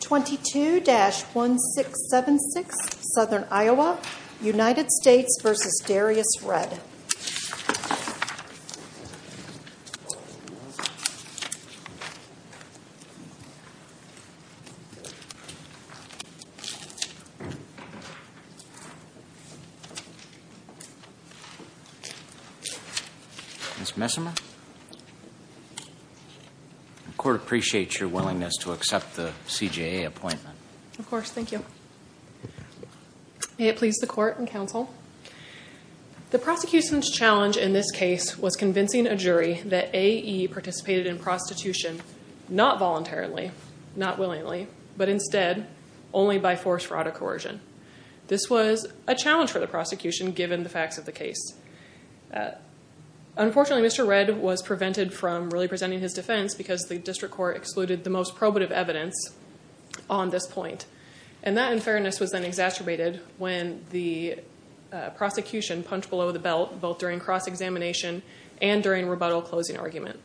22-1676 Southern Iowa, United States v. Darrius Redd Ms. Messimer, the court appreciates your willingness to accept the CJA appointment. Of course, thank you. May it please the court and counsel, the prosecution's challenge in this case was convincing a jury that AE participated in prostitution not voluntarily, not willingly, but instead only by force, fraud, or coercion. This was a challenge for the prosecution given the facts of the case. Unfortunately, Mr. Redd was prevented from really presenting his defense because the district court excluded the most probative evidence on this point. And that unfairness was then exacerbated when the prosecution punched below the belt both during cross-examination and during rebuttal closing argument.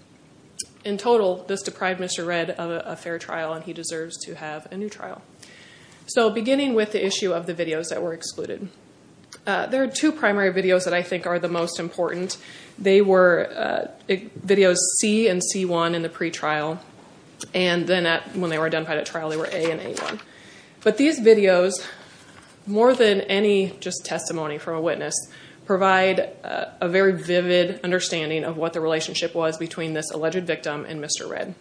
In total, this deprived Mr. Redd of a fair trial, and he deserves to have a new trial. So beginning with the issue of the videos that were excluded, there are two primary videos that I think are the most important. They were videos C and C1 in the pretrial, and then when they were identified at trial, they were A and A1. But these videos, more than any just testimony from a witness, provide a very vivid understanding of what the relationship was between this alleged victim and Mr. Redd.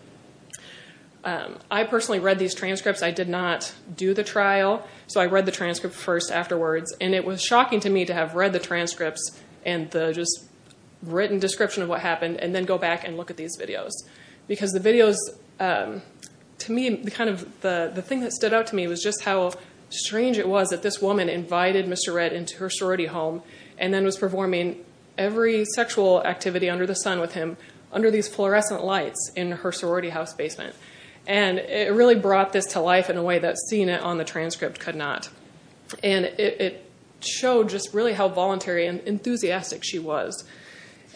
I personally read these transcripts. I did not do the trial, so I read the transcript first afterwards, and it was shocking to me to have read the transcripts and the just written description of what happened and then go back and look at these videos. Because the videos, to me, the thing that stood out to me was just how strange it was that this woman invited Mr. Redd into her sorority home and then was performing every sexual activity under the sun with him under these fluorescent lights in her sorority house basement. It really brought this to life in a way that seeing it on the transcript could not. It showed just really how voluntary and enthusiastic she was.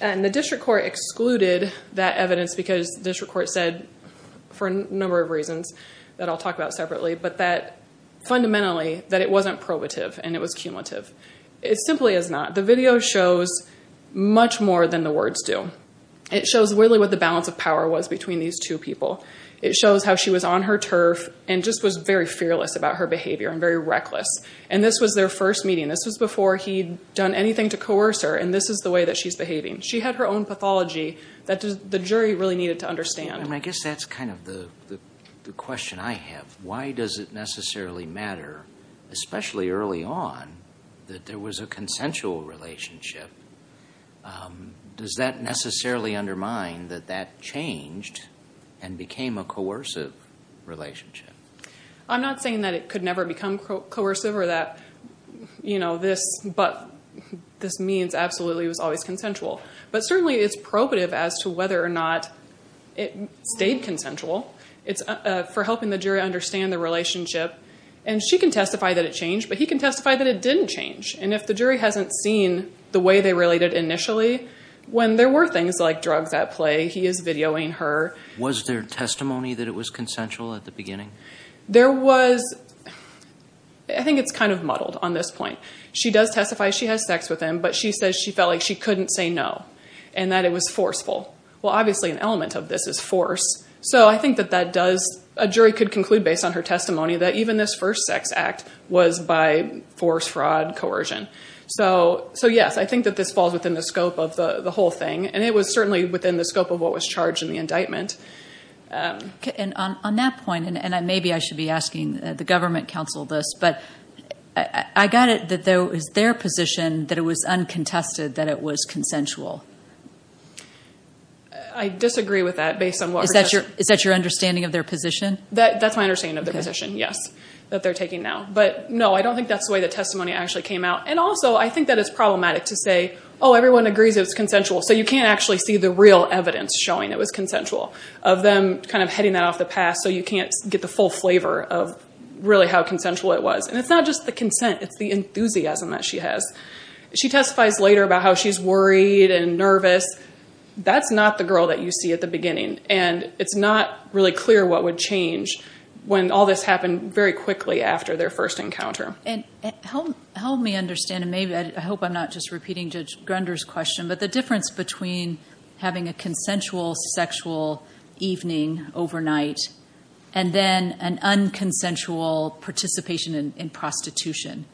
The district court excluded that evidence because the district court said, for a number of reasons that I'll talk about separately, but that fundamentally that it wasn't probative and it was cumulative. It simply is not. The video shows much more than the words do. It shows really what the balance of power was between these two people. It shows how she was on her turf and just was very fearless about her behavior and very reckless. This was their first meeting. This was before he'd done anything to coerce her, and this is the way that she's behaving. She had her own pathology that the jury really needed to understand. I guess that's kind of the question I have. Why does it necessarily matter, especially early on, that there was a consensual relationship? Does that necessarily undermine that that changed and became a coercive relationship? I'm not saying that it could never become coercive or that this means absolutely it stayed consensual. It's for helping the jury understand the relationship. She can testify that it changed, but he can testify that it didn't change. If the jury hasn't seen the way they related initially, when there were things like drugs at play, he is videoing her. Was there testimony that it was consensual at the beginning? There was. I think it's kind of muddled on this point. She does testify she has sex with him, but she says she felt like she couldn't say no and that it was forceful. Well, obviously an element of this is force. I think that a jury could conclude based on her testimony that even this first sex act was by force, fraud, coercion. Yes, I think that this falls within the scope of the whole thing, and it was certainly within the scope of what was charged in the indictment. On that point, and maybe I should be asking the government counsel this, but I got it that it was their position that it was uncontested that it was consensual. I disagree with that based on what... Is that your understanding of their position? That's my understanding of their position, yes, that they're taking now. But no, I don't think that's the way the testimony actually came out. And also, I think that it's problematic to say, oh, everyone agrees it was consensual. So you can't actually see the real evidence showing it was consensual, of them kind of heading that off the path, so you can't get the full flavor of really how consensual it was. And it's not just the consent, it's the That's not the girl that you see at the beginning, and it's not really clear what would change when all this happened very quickly after their first encounter. Help me understand, and maybe I hope I'm not just repeating Judge Grunder's question, but the difference between having a consensual sexual evening overnight, and then an unconsensual participation in prostitution.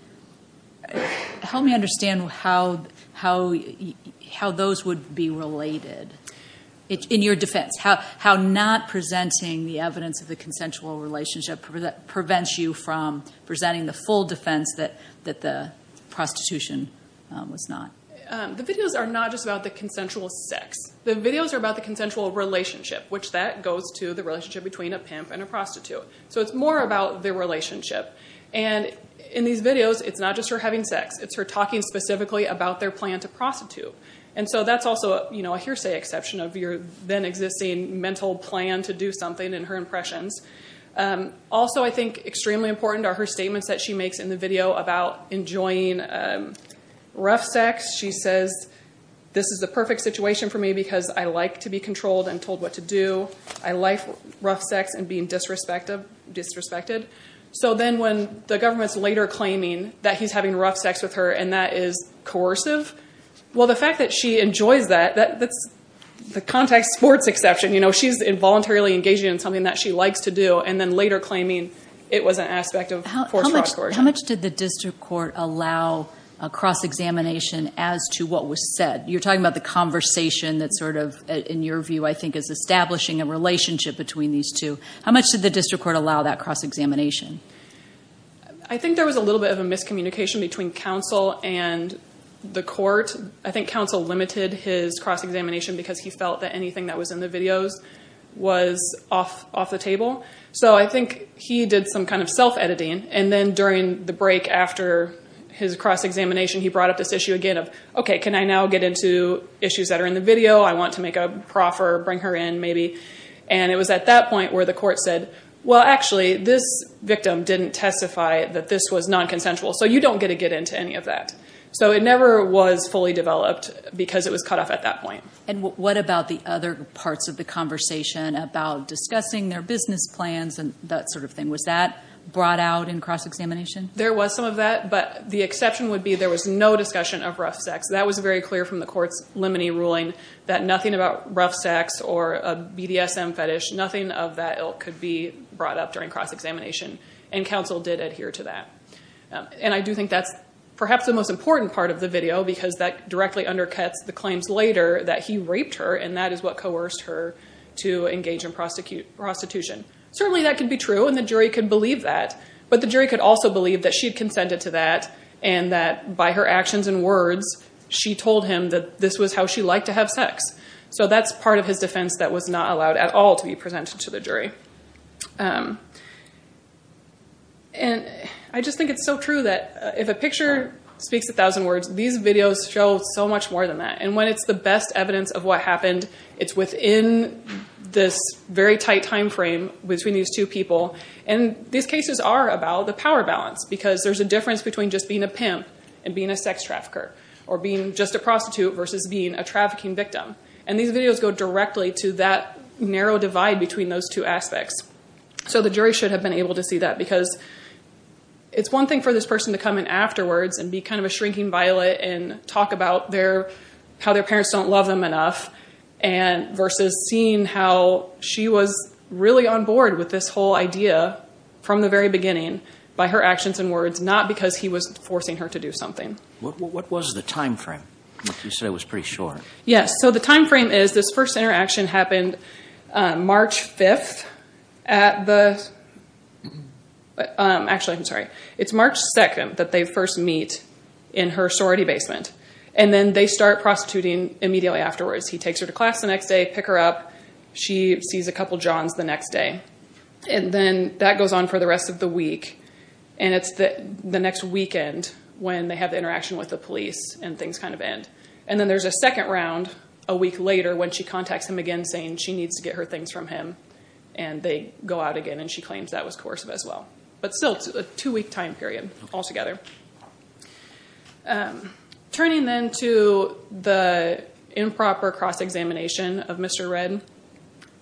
Help me understand how those would be related, in your defense. How not presenting the evidence of the consensual relationship prevents you from presenting the full defense that the prostitution was not. The videos are not just about the consensual sex. The videos are about the consensual relationship, which that goes to the relationship between a pimp and a prostitute. So it's more about their relationship. And in these videos, it's not just her having sex, it's her talking specifically about their plan to prostitute. And so that's also a hearsay exception of your then-existing mental plan to do something, and her impressions. Also I think extremely important are her statements that she makes in the video about enjoying rough sex. She says, this is the perfect situation for me because I like to be controlled and disrespected. So then when the government's later claiming that he's having rough sex with her, and that is coercive, well, the fact that she enjoys that, that's the contact sports exception. You know, she's involuntarily engaging in something that she likes to do, and then later claiming it was an aspect of force, fraud, coercion. How much did the district court allow a cross-examination as to what was said? You're talking about the conversation that sort of, in your view, I think is establishing a relationship between these two. How much did the district court allow that cross-examination? I think there was a little bit of a miscommunication between counsel and the court. I think counsel limited his cross-examination because he felt that anything that was in the videos was off the table. So I think he did some kind of self-editing, and then during the break after his cross-examination, he brought up this issue again of, okay, can I now get into issues that are in the video? I want to make a proffer, bring her in maybe. And it was at that point where the court said, well, actually, this victim didn't testify that this was non-consensual, so you don't get to get into any of that. So it never was fully developed because it was cut off at that point. And what about the other parts of the conversation about discussing their business plans and that sort of thing? Was that brought out in cross-examination? There was some of that, but the exception would be there was no discussion of rough sex. That was very clear from the court's limine ruling that nothing about rough sex or a BDSM fetish, nothing of that ilk could be brought up during cross-examination, and counsel did adhere to that. And I do think that's perhaps the most important part of the video because that directly undercuts the claims later that he raped her, and that is what coerced her to engage in prostitution. Certainly, that could be true, and the jury could believe that, but the jury could also believe that she had consented to that and that by her actions and words, she told him that this was how she liked to have sex. So that's part of his defense that was not allowed at all to be presented to the jury. And I just think it's so true that if a picture speaks a thousand words, these videos show so much more than that. And when it's the best evidence of what happened, it's within this very tight timeframe between these two people. And these cases are about the power balance because there's a difference between just being a pimp and being a sex trafficker or being just a prostitute versus being a trafficking victim. And these videos go directly to that narrow divide between those two aspects. So the jury should have been able to see that because it's one thing for this person to come in afterwards and be kind of a shrinking violet and talk about how their parents don't love them enough versus seeing how she was really on board with this whole idea from the very beginning by her actions and words, not because he was forcing her to do something. What was the timeframe? You said it was pretty short. Yes. So the timeframe is this first interaction happened March 5th at the... Actually, I'm sorry. It's March 2nd that they first meet in her sorority basement. And then they start prostituting immediately afterwards. He takes her to class the next day, pick her up. She sees a couple of Johns the next day. And then that goes on for the rest of the week. And it's the next weekend when they have the interaction with the police and things kind of end. And then there's a second round a week later when she contacts him again saying she needs to get her things from him. And they go out again and she claims that was coercive as well. But still, it's a two-week time period altogether. Turning then to the improper cross-examination of Mr. Redd.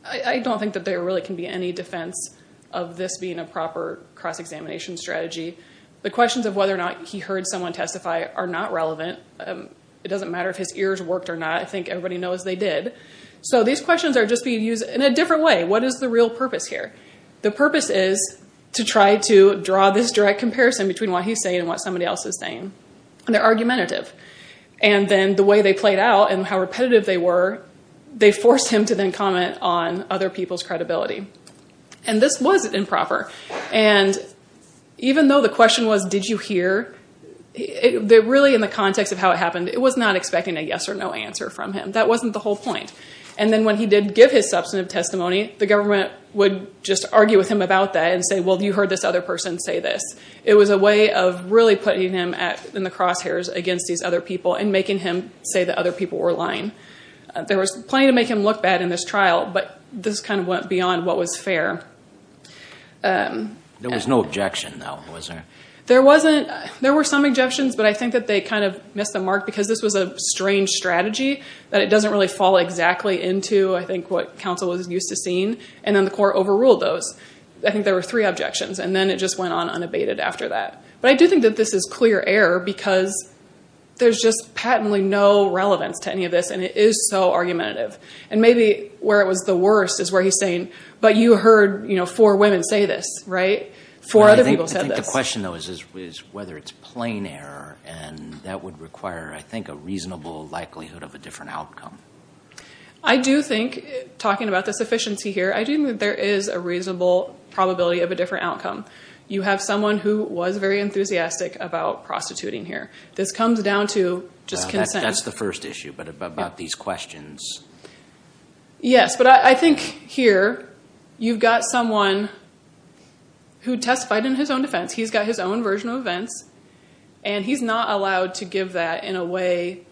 I don't think that there really can be any defense of this being a proper cross-examination strategy. The questions of whether or not he heard someone testify are not relevant. It doesn't matter if his ears worked or not. I think everybody knows they did. So these questions are just being used in a different way. What is the real purpose here? The purpose is to try to draw this direct comparison between what he's saying and what somebody else is saying. They're argumentative. And then the way they played out and how repetitive they were, they forced him to then comment on other people's credibility. And this was improper. And even though the question was did you hear, really in the context of how it happened, it was not expecting a yes or no answer from him. That wasn't the whole point. And then when he did give his substantive testimony, the government would just argue with him about that and say, well, you heard this other person say this. It was a way of really putting him in the crosshairs against these other people and making him say that other people were lying. There was plenty to make him look bad in this trial, but this kind of went beyond what was fair. There was no objection, though, was there? There were some objections, but I think that they kind of missed the mark because this was a strange strategy, that it doesn't really fall exactly into, I think, what counsel was used to seeing. And then the court overruled those. I think there were three objections, and then it just went on unabated after that. But I do think that this is clear error because there's just patently no relevance to any of this, and it is so argumentative. And maybe where it was the worst is where he's saying, but you heard four women say this, right? Four other people said this. I think the question, though, is whether it's plain error, and that would require, I think, a reasonable likelihood of a different outcome. I do think, talking about the sufficiency here, I do think that there is a reasonable probability of a different outcome. You have someone who was very enthusiastic about prostituting here. This comes down to just consent. That's the first issue, but about these questions. Yes, but I think here, you've got someone who testified in his own defense. He's got his own version of events, and he's not allowed to give that in a way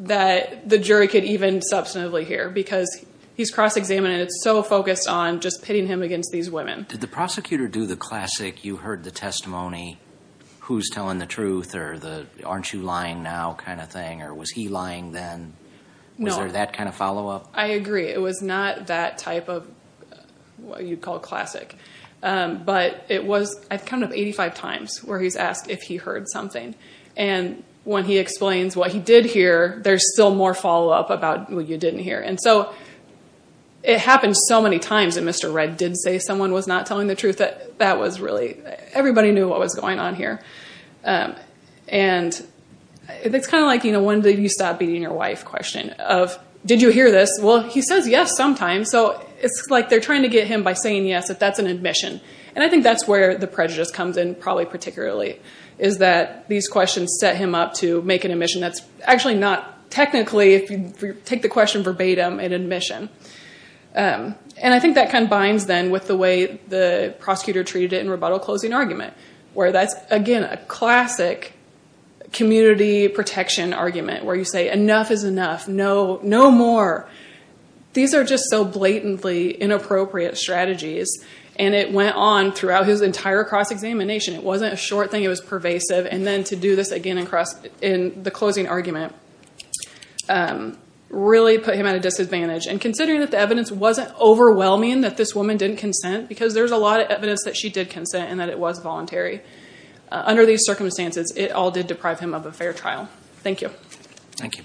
that the jury could even substantively hear because he's cross-examined, and it's so focused on just pitting him against these women. Did the prosecutor do the classic, you heard the testimony, who's telling the truth, or the aren't you lying now kind of thing, or was he lying then? Was there that kind of follow-up? I agree. It was not that type of what you'd call classic, but I've come to 85 times where he's asked if he heard something. When he explains what he did hear, there's still more follow-up about what you didn't hear. It happened so many times that Mr. Redd did say someone was not telling the truth. Everybody knew what was going on here. It's kind of like, when did you stop beating your wife question. Did you hear this? Well, he says yes sometimes, so it's like they're trying to get him by saying yes if that's an admission. I think that's where the prejudice comes in, probably particularly, is that these questions set him up to make an admission that's actually not technically, if you take the question verbatim, an admission. I think that kind of binds then with the way the prosecutor treated it in rebuttal-closing argument, where that's, again, a classic community protection argument, where you say enough is enough, no more. These are just so blatantly inappropriate strategies, and it went on throughout his entire cross-examination. It wasn't a short thing, it was pervasive, and then to do this again in the closing argument really put him at a disadvantage. Considering that the evidence wasn't overwhelming, that this woman didn't consent, because there's a lot of evidence that she did consent and that it was voluntary, under these circumstances, it all did deprive him of a fair trial. Thank you. Thank you.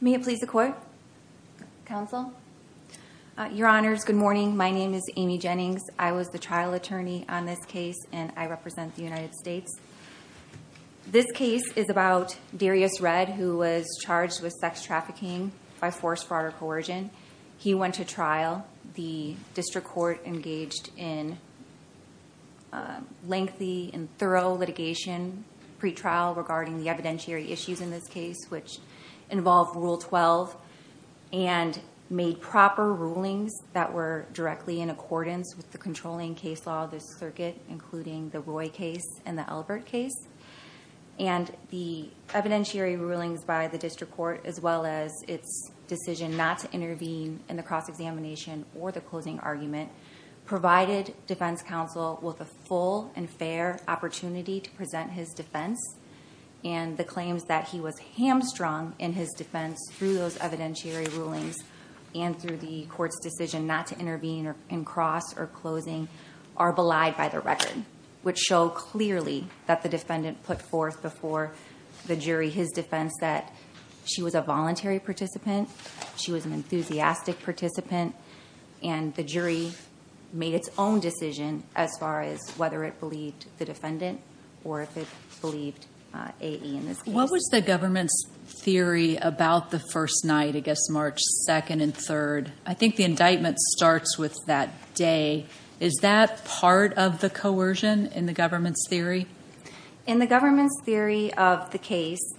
May it please the Court? Counsel? Your Honors, good morning. My name is Amy Jennings. I was with Darius Redd, who was charged with sex trafficking by force, fraud, or coercion. He went to trial. The district court engaged in lengthy and thorough litigation pre-trial regarding the evidentiary issues in this case, which involved Rule 12, and made proper rulings that were directly in accordance with the controlling case law of this circuit, including the Roy case and the Elbert case. The evidentiary rulings by the district court, as well as its decision not to intervene in the cross-examination or the closing argument, provided defense counsel with a full and fair opportunity to present his defense. The claims that he was hamstrung in his defense through those evidentiary rulings and through the court's decision not to intervene in cross or closing are belied by the record, which show clearly that the defendant put forth before the jury his defense that she was a voluntary participant, she was an enthusiastic participant, and the jury made its own decision as far as whether it believed the defendant or if it believed A.E. in this case. What was the government's theory about the first night, I guess March 2nd and 3rd? I think it starts with that day. Is that part of the coercion in the government's theory? In the government's theory of the case,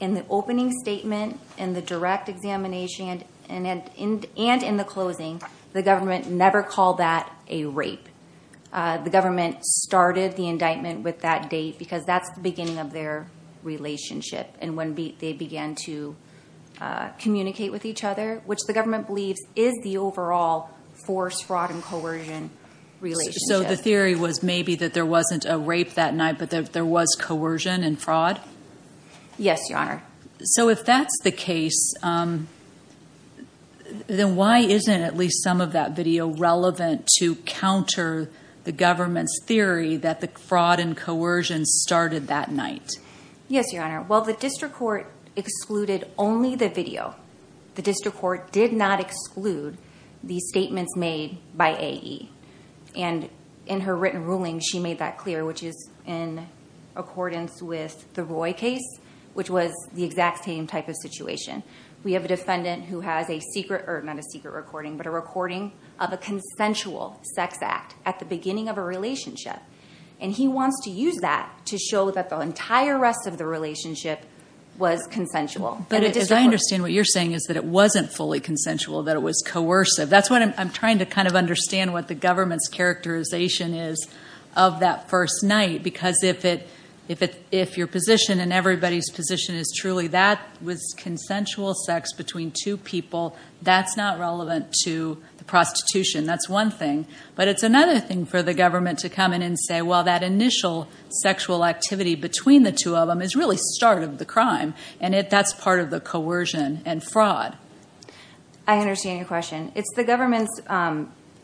in the opening statement, in the direct examination, and in the closing, the government never called that a rape. The government started the indictment with that date because that's the beginning of their relationship, and when they began to communicate with each other, which the government believes is the overall forced fraud and coercion relationship. So the theory was maybe that there wasn't a rape that night, but there was coercion and fraud? Yes, Your Honor. So if that's the case, then why isn't at least some of that video relevant to counter the government's theory that the fraud and coercion started that night? Yes, Your Honor. Well, the district court excluded only the video. The district court did not exclude the statements made by A.E., and in her written ruling, she made that clear, which is in accordance with the Roy case, which was the exact same type of situation. We have a defendant who has a secret, or not a secret recording, but a recording of a consensual sex act at the beginning of a relationship, and he wants to use that to show that the entire rest of the relationship was consensual. But as I understand what you're saying is that it wasn't fully consensual, that it was coercive. That's what I'm trying to kind of understand what the government's characterization is of that first night, because if your position and everybody's position is truly that was consensual sex between two people, that's not relevant to the prostitution. That's one thing, but it's another thing for the government to come in and say, well, that initial sexual activity between the two of them is really the start of the crime, and that's part of the coercion and fraud. I understand your question. It's the government's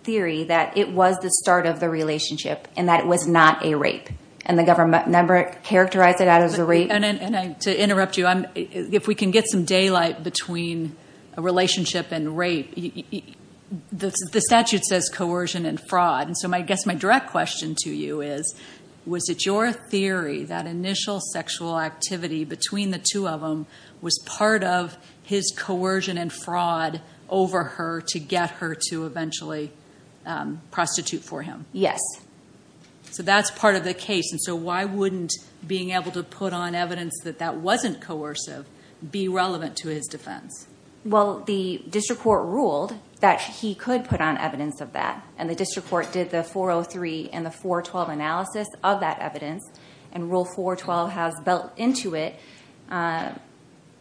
theory that it was the start of the relationship, and that it was not a rape, and the government never characterized it as a rape. To interrupt you, if we can get some daylight between a relationship and rape, the statute says coercion and fraud. So I guess my direct question to you is, was it your theory that initial sexual activity between the two of them was part of his coercion and fraud over her to get her to eventually prostitute for him? Yes. So that's part of the case, and so why wouldn't being able to put on evidence that that wasn't coercive be relevant to his defense? Well, the district court ruled that he could put on evidence of that, and the district court did the 403 and the 412 analysis of that evidence, and Rule 412 has built into it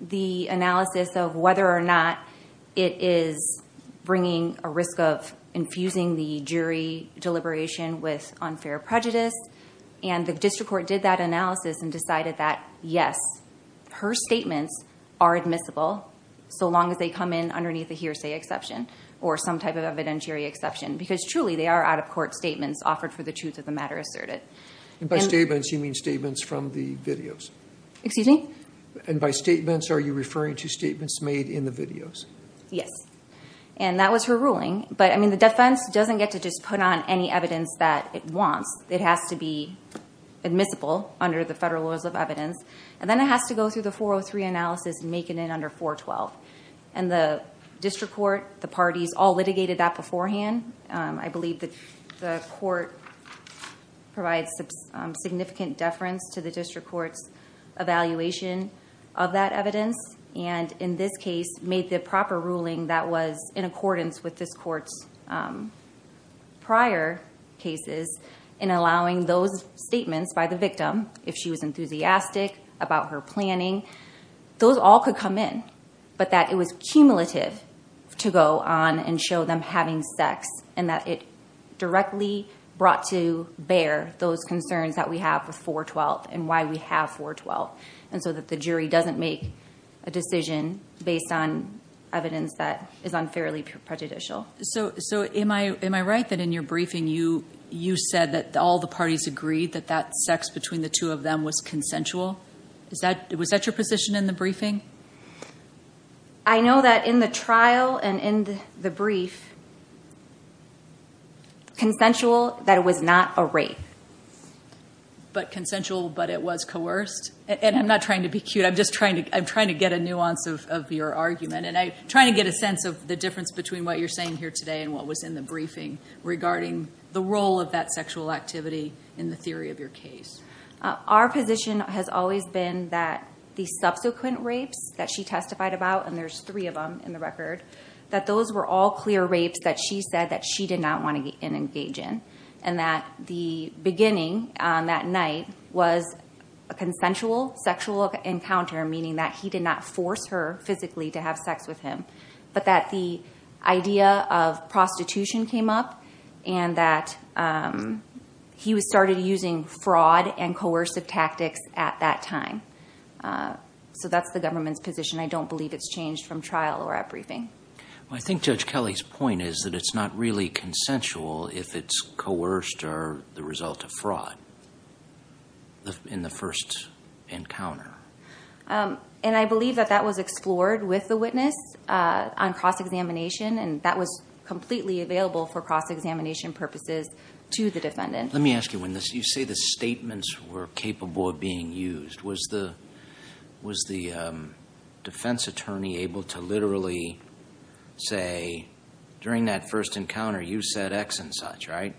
the analysis of whether or not it is bringing a risk of infusing the jury deliberation with unfair prejudice, and the district court did that analysis and decided that, yes, her statements are admissible, so long as they come in underneath a hearsay exception or some type of evidentiary exception, because truly, they are out-of-court statements offered for the truth of the matter asserted. And by statements, you mean statements from the videos? Excuse me? And by statements, are you referring to statements made in the videos? Yes. And that was her ruling, but the defense doesn't get to just put on any evidence that it wants. It has to be admissible under the federal laws of evidence, and then it has to go through the 403 analysis and make it in under 412, and the district court, the parties all litigated that beforehand. I believe that the court provides significant deference to the district court's evaluation of that evidence, and in this case, made the proper ruling that was in accordance with this court's prior cases in allowing those statements by the victim, if she was enthusiastic about her planning, those all could come in, but that it was cumulative to go on and show them having sex, and that it directly brought to bear those concerns that we have with 412 and why we have 412, and so that the jury doesn't make a decision based on evidence that is unfairly prejudicial. So am I right that in your briefing, you said that all the parties agreed that that sex between the two of them was consensual? Was that your position in the briefing? I know that in the trial and in the brief, consensual, that it was not a rape. But consensual, but it was coerced? And I'm not trying to be cute. I'm just trying to get a nuance of your argument, and I'm trying to get a sense of the difference between what you're saying here today and what was in the briefing regarding the role of that sexual activity in the theory of your case. Our position has always been that the subsequent rapes that she testified about, and there's three of them in the record, that those were all clear rapes that she said that she did not want to engage in, and that the beginning on that night was a consensual sexual encounter, meaning that he did not force her physically to have sex with him, but that the idea of prostitution came up, and that he started using fraud and coercive tactics at that time. So that's the government's position. I don't believe it's changed from trial or at briefing. I think Judge Kelly's point is that it's not really consensual if it's coerced or the result of fraud in the first encounter. And I believe that that was explored with the witness on cross-examination, and that was completely available for cross-examination purposes to the defendant. Let me ask you, when you say the statements were capable of being used, was the defense attorney able to literally say, during that first encounter, you said X and such, right?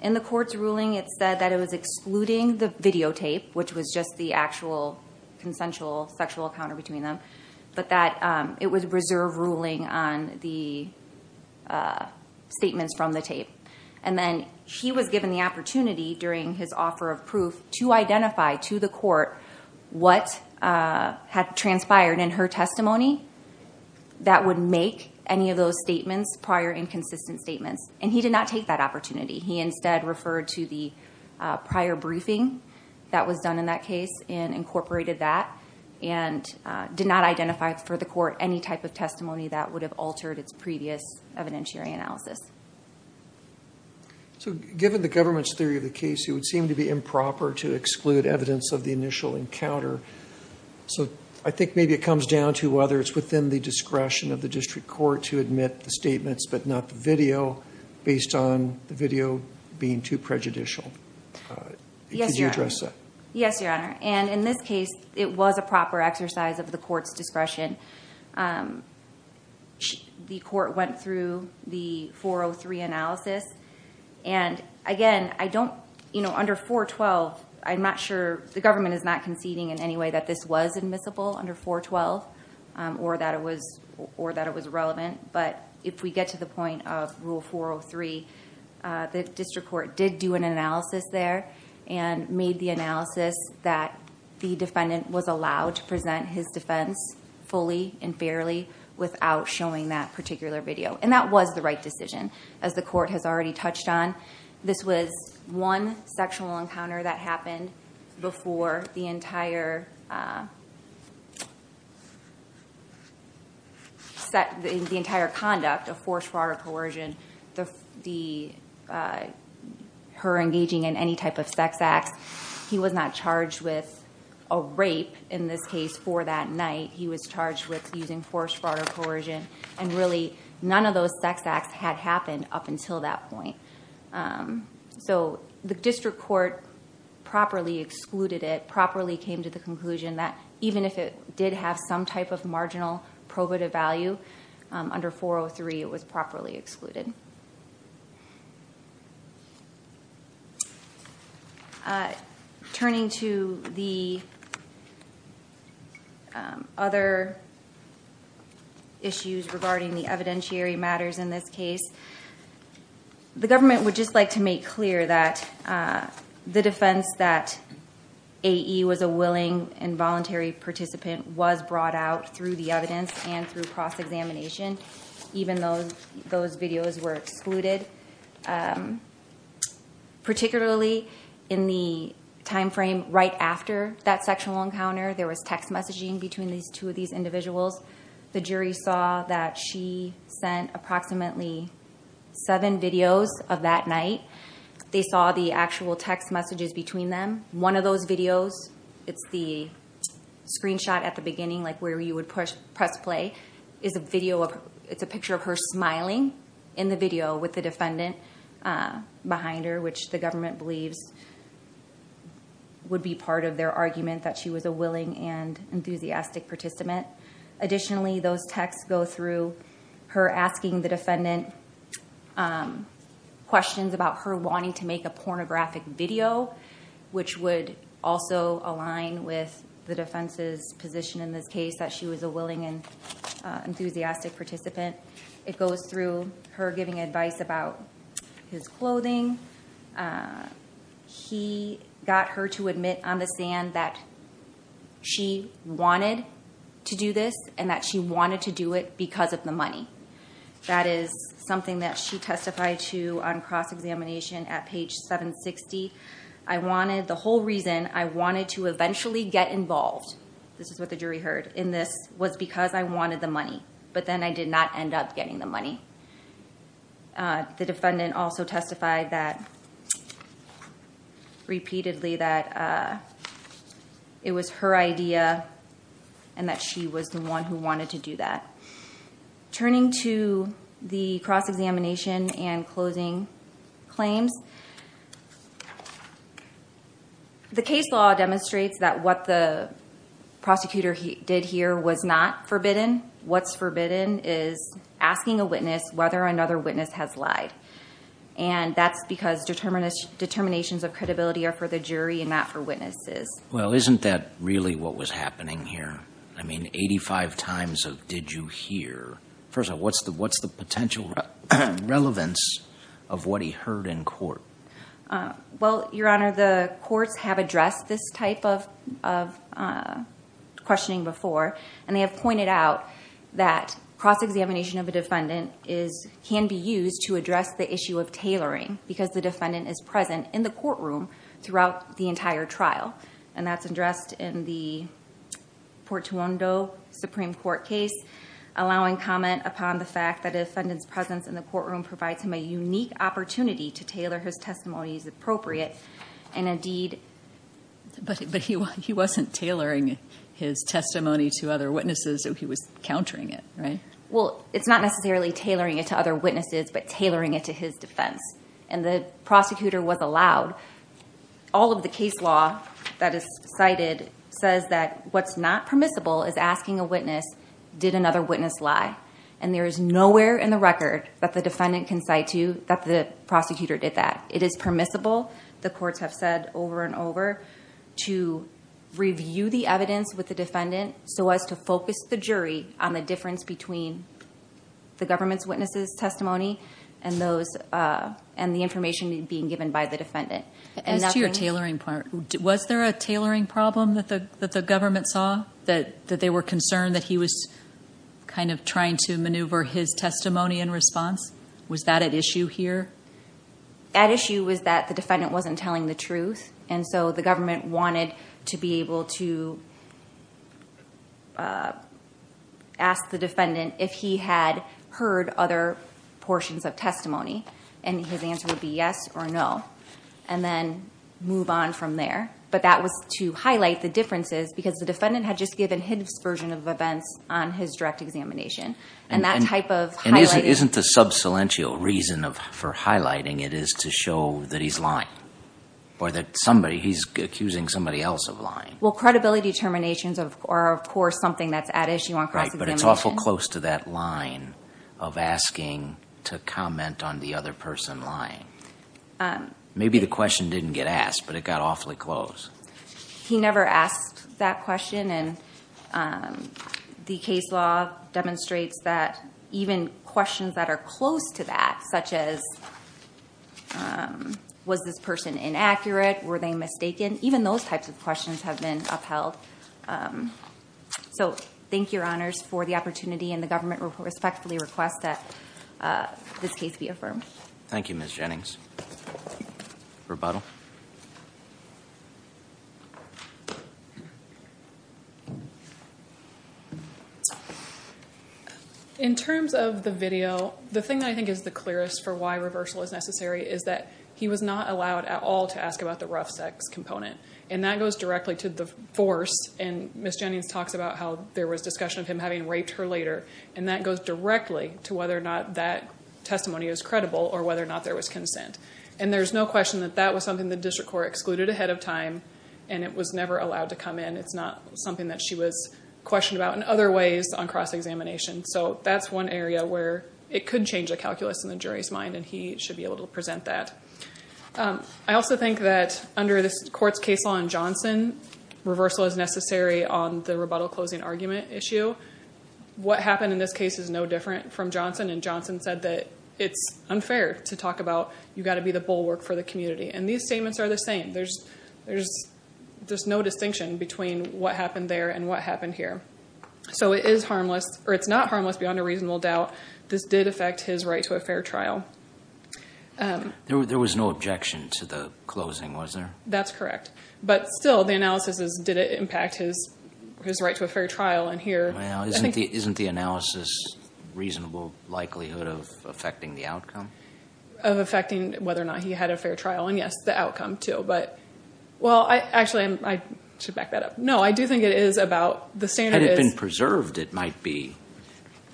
In the court's ruling, it said that it was excluding the videotape, which was just the actual consensual sexual encounter between them, but that it was reserve ruling on the statements from the tape. And then he was given the opportunity during his offer of proof to identify to the court what had transpired in her testimony that would make any of those statements prior inconsistent statements. And he did not take that opportunity. He instead referred to the prior briefing that was done in that case and incorporated that and did not identify for the court any type of testimony that would have altered its previous evidentiary analysis. So given the government's theory of the case, it would seem to be improper to exclude evidence of the initial encounter. So I think maybe it comes down to whether it's within the discretion of the district court to admit the video being too prejudicial. Could you address that? Yes, Your Honor. And in this case, it was a proper exercise of the court's discretion. The court went through the 403 analysis. And again, I don't, you know, under 412, I'm not sure, the government is not conceding in any way that this was admissible under 412 or that it was relevant. But if we get to the point of Rule 403, the district court did do an analysis there and made the analysis that the defendant was allowed to present his defense fully and fairly without showing that particular video. And that was the right decision, as the court has already touched on. This was one sexual encounter that happened before the entire conduct of forced fraud or coercion, her engaging in any type of sex acts. He was not charged with a rape in this case for that night. He was charged with using forced fraud or coercion. And really, none of those sex acts had happened up until that point. So the district court properly excluded it, properly came to the conclusion that even if it did have some type of marginal probative value, under 403, it was properly excluded. Turning to the other issues regarding the evidentiary matters in this case, the government would just like to make clear that the defense that A.E. was a willing and voluntary participant was brought out through the evidence and through cross-examination, even though those videos were excluded. Particularly in the time frame right after that sexual encounter, there was text messaging between these two of these individuals. The jury saw that she sent approximately seven videos of that night. They saw the actual text messages between them. One of those videos, it's the screenshot at the beginning where you would press play, it's a picture of her smiling in the video with the defendant behind her, which the government believes would be part of their argument that she was a willing and enthusiastic participant. Additionally, those texts go through her asking the defendant questions about her wanting to make a pornographic video, which would also align with the defense's position in this case that she was a willing and enthusiastic participant. It goes through her giving advice about his clothing. He got her to admit on the stand that she wanted to do this and that she wanted to do it because of the money. That is something that she testified to on cross-examination at page 760. I wanted, the whole reason I wanted to eventually get involved, this is what the jury heard in this, was because I wanted the money, but then I did not end up getting the money. The defendant also testified that, repeatedly, that it was her idea and that she was the one who wanted to do that. Turning to the cross-examination and closing claims, the case law demonstrates that what the prosecutor did here was not forbidden. What's forbidden is asking a witness whether another witness has lied. That's because determinations of credibility are for the jury and not for witnesses. Isn't that really what was happening here? Eighty-five times did you hear? First of all, what's the potential relevance of what he heard in court? Your Honor, the courts have addressed this type of questioning before. They have pointed out that cross-examination of a defendant can be used to address the issue of tailoring, because the defendant is present in the courtroom throughout the entire trial. That's addressed in the Portuondo Supreme Court case, allowing comment upon the fact that a defendant's presence in the courtroom provides him a unique opportunity to tailor his testimony as appropriate. Indeed, but he wasn't tailoring his testimony to other witnesses. He was countering it, right? Well, it's not necessarily tailoring it to other witnesses, but tailoring it to his defense. And the prosecutor was allowed. All of the case law that is cited says that what's not permissible is asking a witness, did another witness lie? And there is nowhere in the record that the defendant can cite to that the prosecutor did that. It is permissible, the courts have said over and over, to review the evidence with the defendant so as to focus the jury on the difference between the government's witnesses' testimony and the information being given by the defendant. As to your tailoring part, was there a tailoring problem that the government saw, that they were concerned that he was kind of trying to maneuver his testimony in response? Was that at issue here? At issue was that the defendant wasn't telling the truth, and so the government wanted to be able to ask the defendant if he had heard other portions of testimony, and his answer would be yes or no, and then move on from there. But that was to highlight the differences, because the defendant had just given his version of events on his direct examination. And isn't the sub-cilential reason for highlighting it is to show that he's lying, or that he's accusing somebody else of lying? Well, credibility determinations are of course something that's at issue on cross-examination. Right, but it's awful close to that line of asking to comment on the other person lying. Maybe the question didn't get asked, but it got awfully close. He never asked that question, and the case law demonstrates that even questions that are close to that, such as was this person inaccurate, were they mistaken, even those types of questions have been upheld. So thank you, your honors, for the opportunity, and the government respectfully requests that this case be affirmed. Thank you, Ms. Jennings. Rebuttal. In terms of the video, the thing that I think is the clearest for why reversal is necessary is that he was not allowed at all to ask about the rough sex component, and that goes directly to the force. And Ms. Jennings talks about how there was discussion of him having raped her later, and that goes directly to whether or not that testimony is credible, or whether or not there was consent. And there's no question that that was something the district court excluded ahead of time, and it was never allowed to come in. It's not something that she was questioned about in other ways on cross-examination. So that's one area where it could change the calculus in the jury's mind, and he should be able to present that. I also think that under this court's case law in Johnson, reversal is necessary on the rebuttal closing argument issue. What happened in this case is no different from Johnson, and Johnson said that it's unfair to talk about you've got to be the bulwark for the community. And these statements are the same. There's no distinction between what happened there and what happened here. So it's not harmless beyond a reasonable doubt. This did affect his right to a fair trial. There was no objection to the closing, was there? That's correct. But still, the analysis is, did it impact his right to a fair trial? Well, isn't the analysis reasonable likelihood of affecting the outcome? Of affecting whether or not he had a fair trial, and yes, the outcome, too. But, well, actually, I should back that up. No, I do think it is about, the standard is... Had it been preserved, it might be,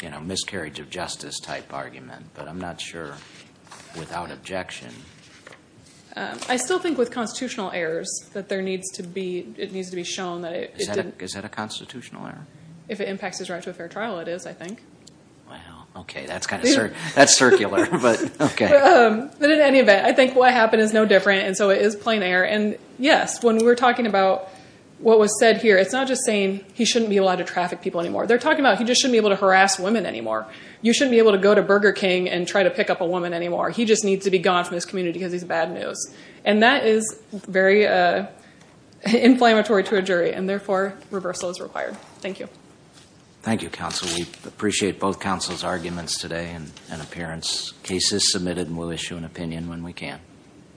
you know, miscarriage of justice type argument. But I'm not sure without objection. I still think with constitutional errors, that there needs to be, it needs to be shown that it didn't... Is that a constitutional error? If it impacts his right to a fair trial, it is, I think. Wow. Okay. That's kind of, that's circular, but okay. But in any event, I think what happened is no different. And so it is plain error. And yes, when we're talking about what was said here, it's not just saying he shouldn't be allowed to traffic people anymore. They're talking about he just shouldn't be able to harass women anymore. You shouldn't be able to go to Burger King and try to pick up a woman anymore. He just needs to be gone from this community because he's bad news. And that is very inflammatory to a jury and therefore reversal is required. Thank you. Thank you, counsel. We appreciate both counsel's arguments today and appearance. Case is submitted and we'll issue an opinion when we can.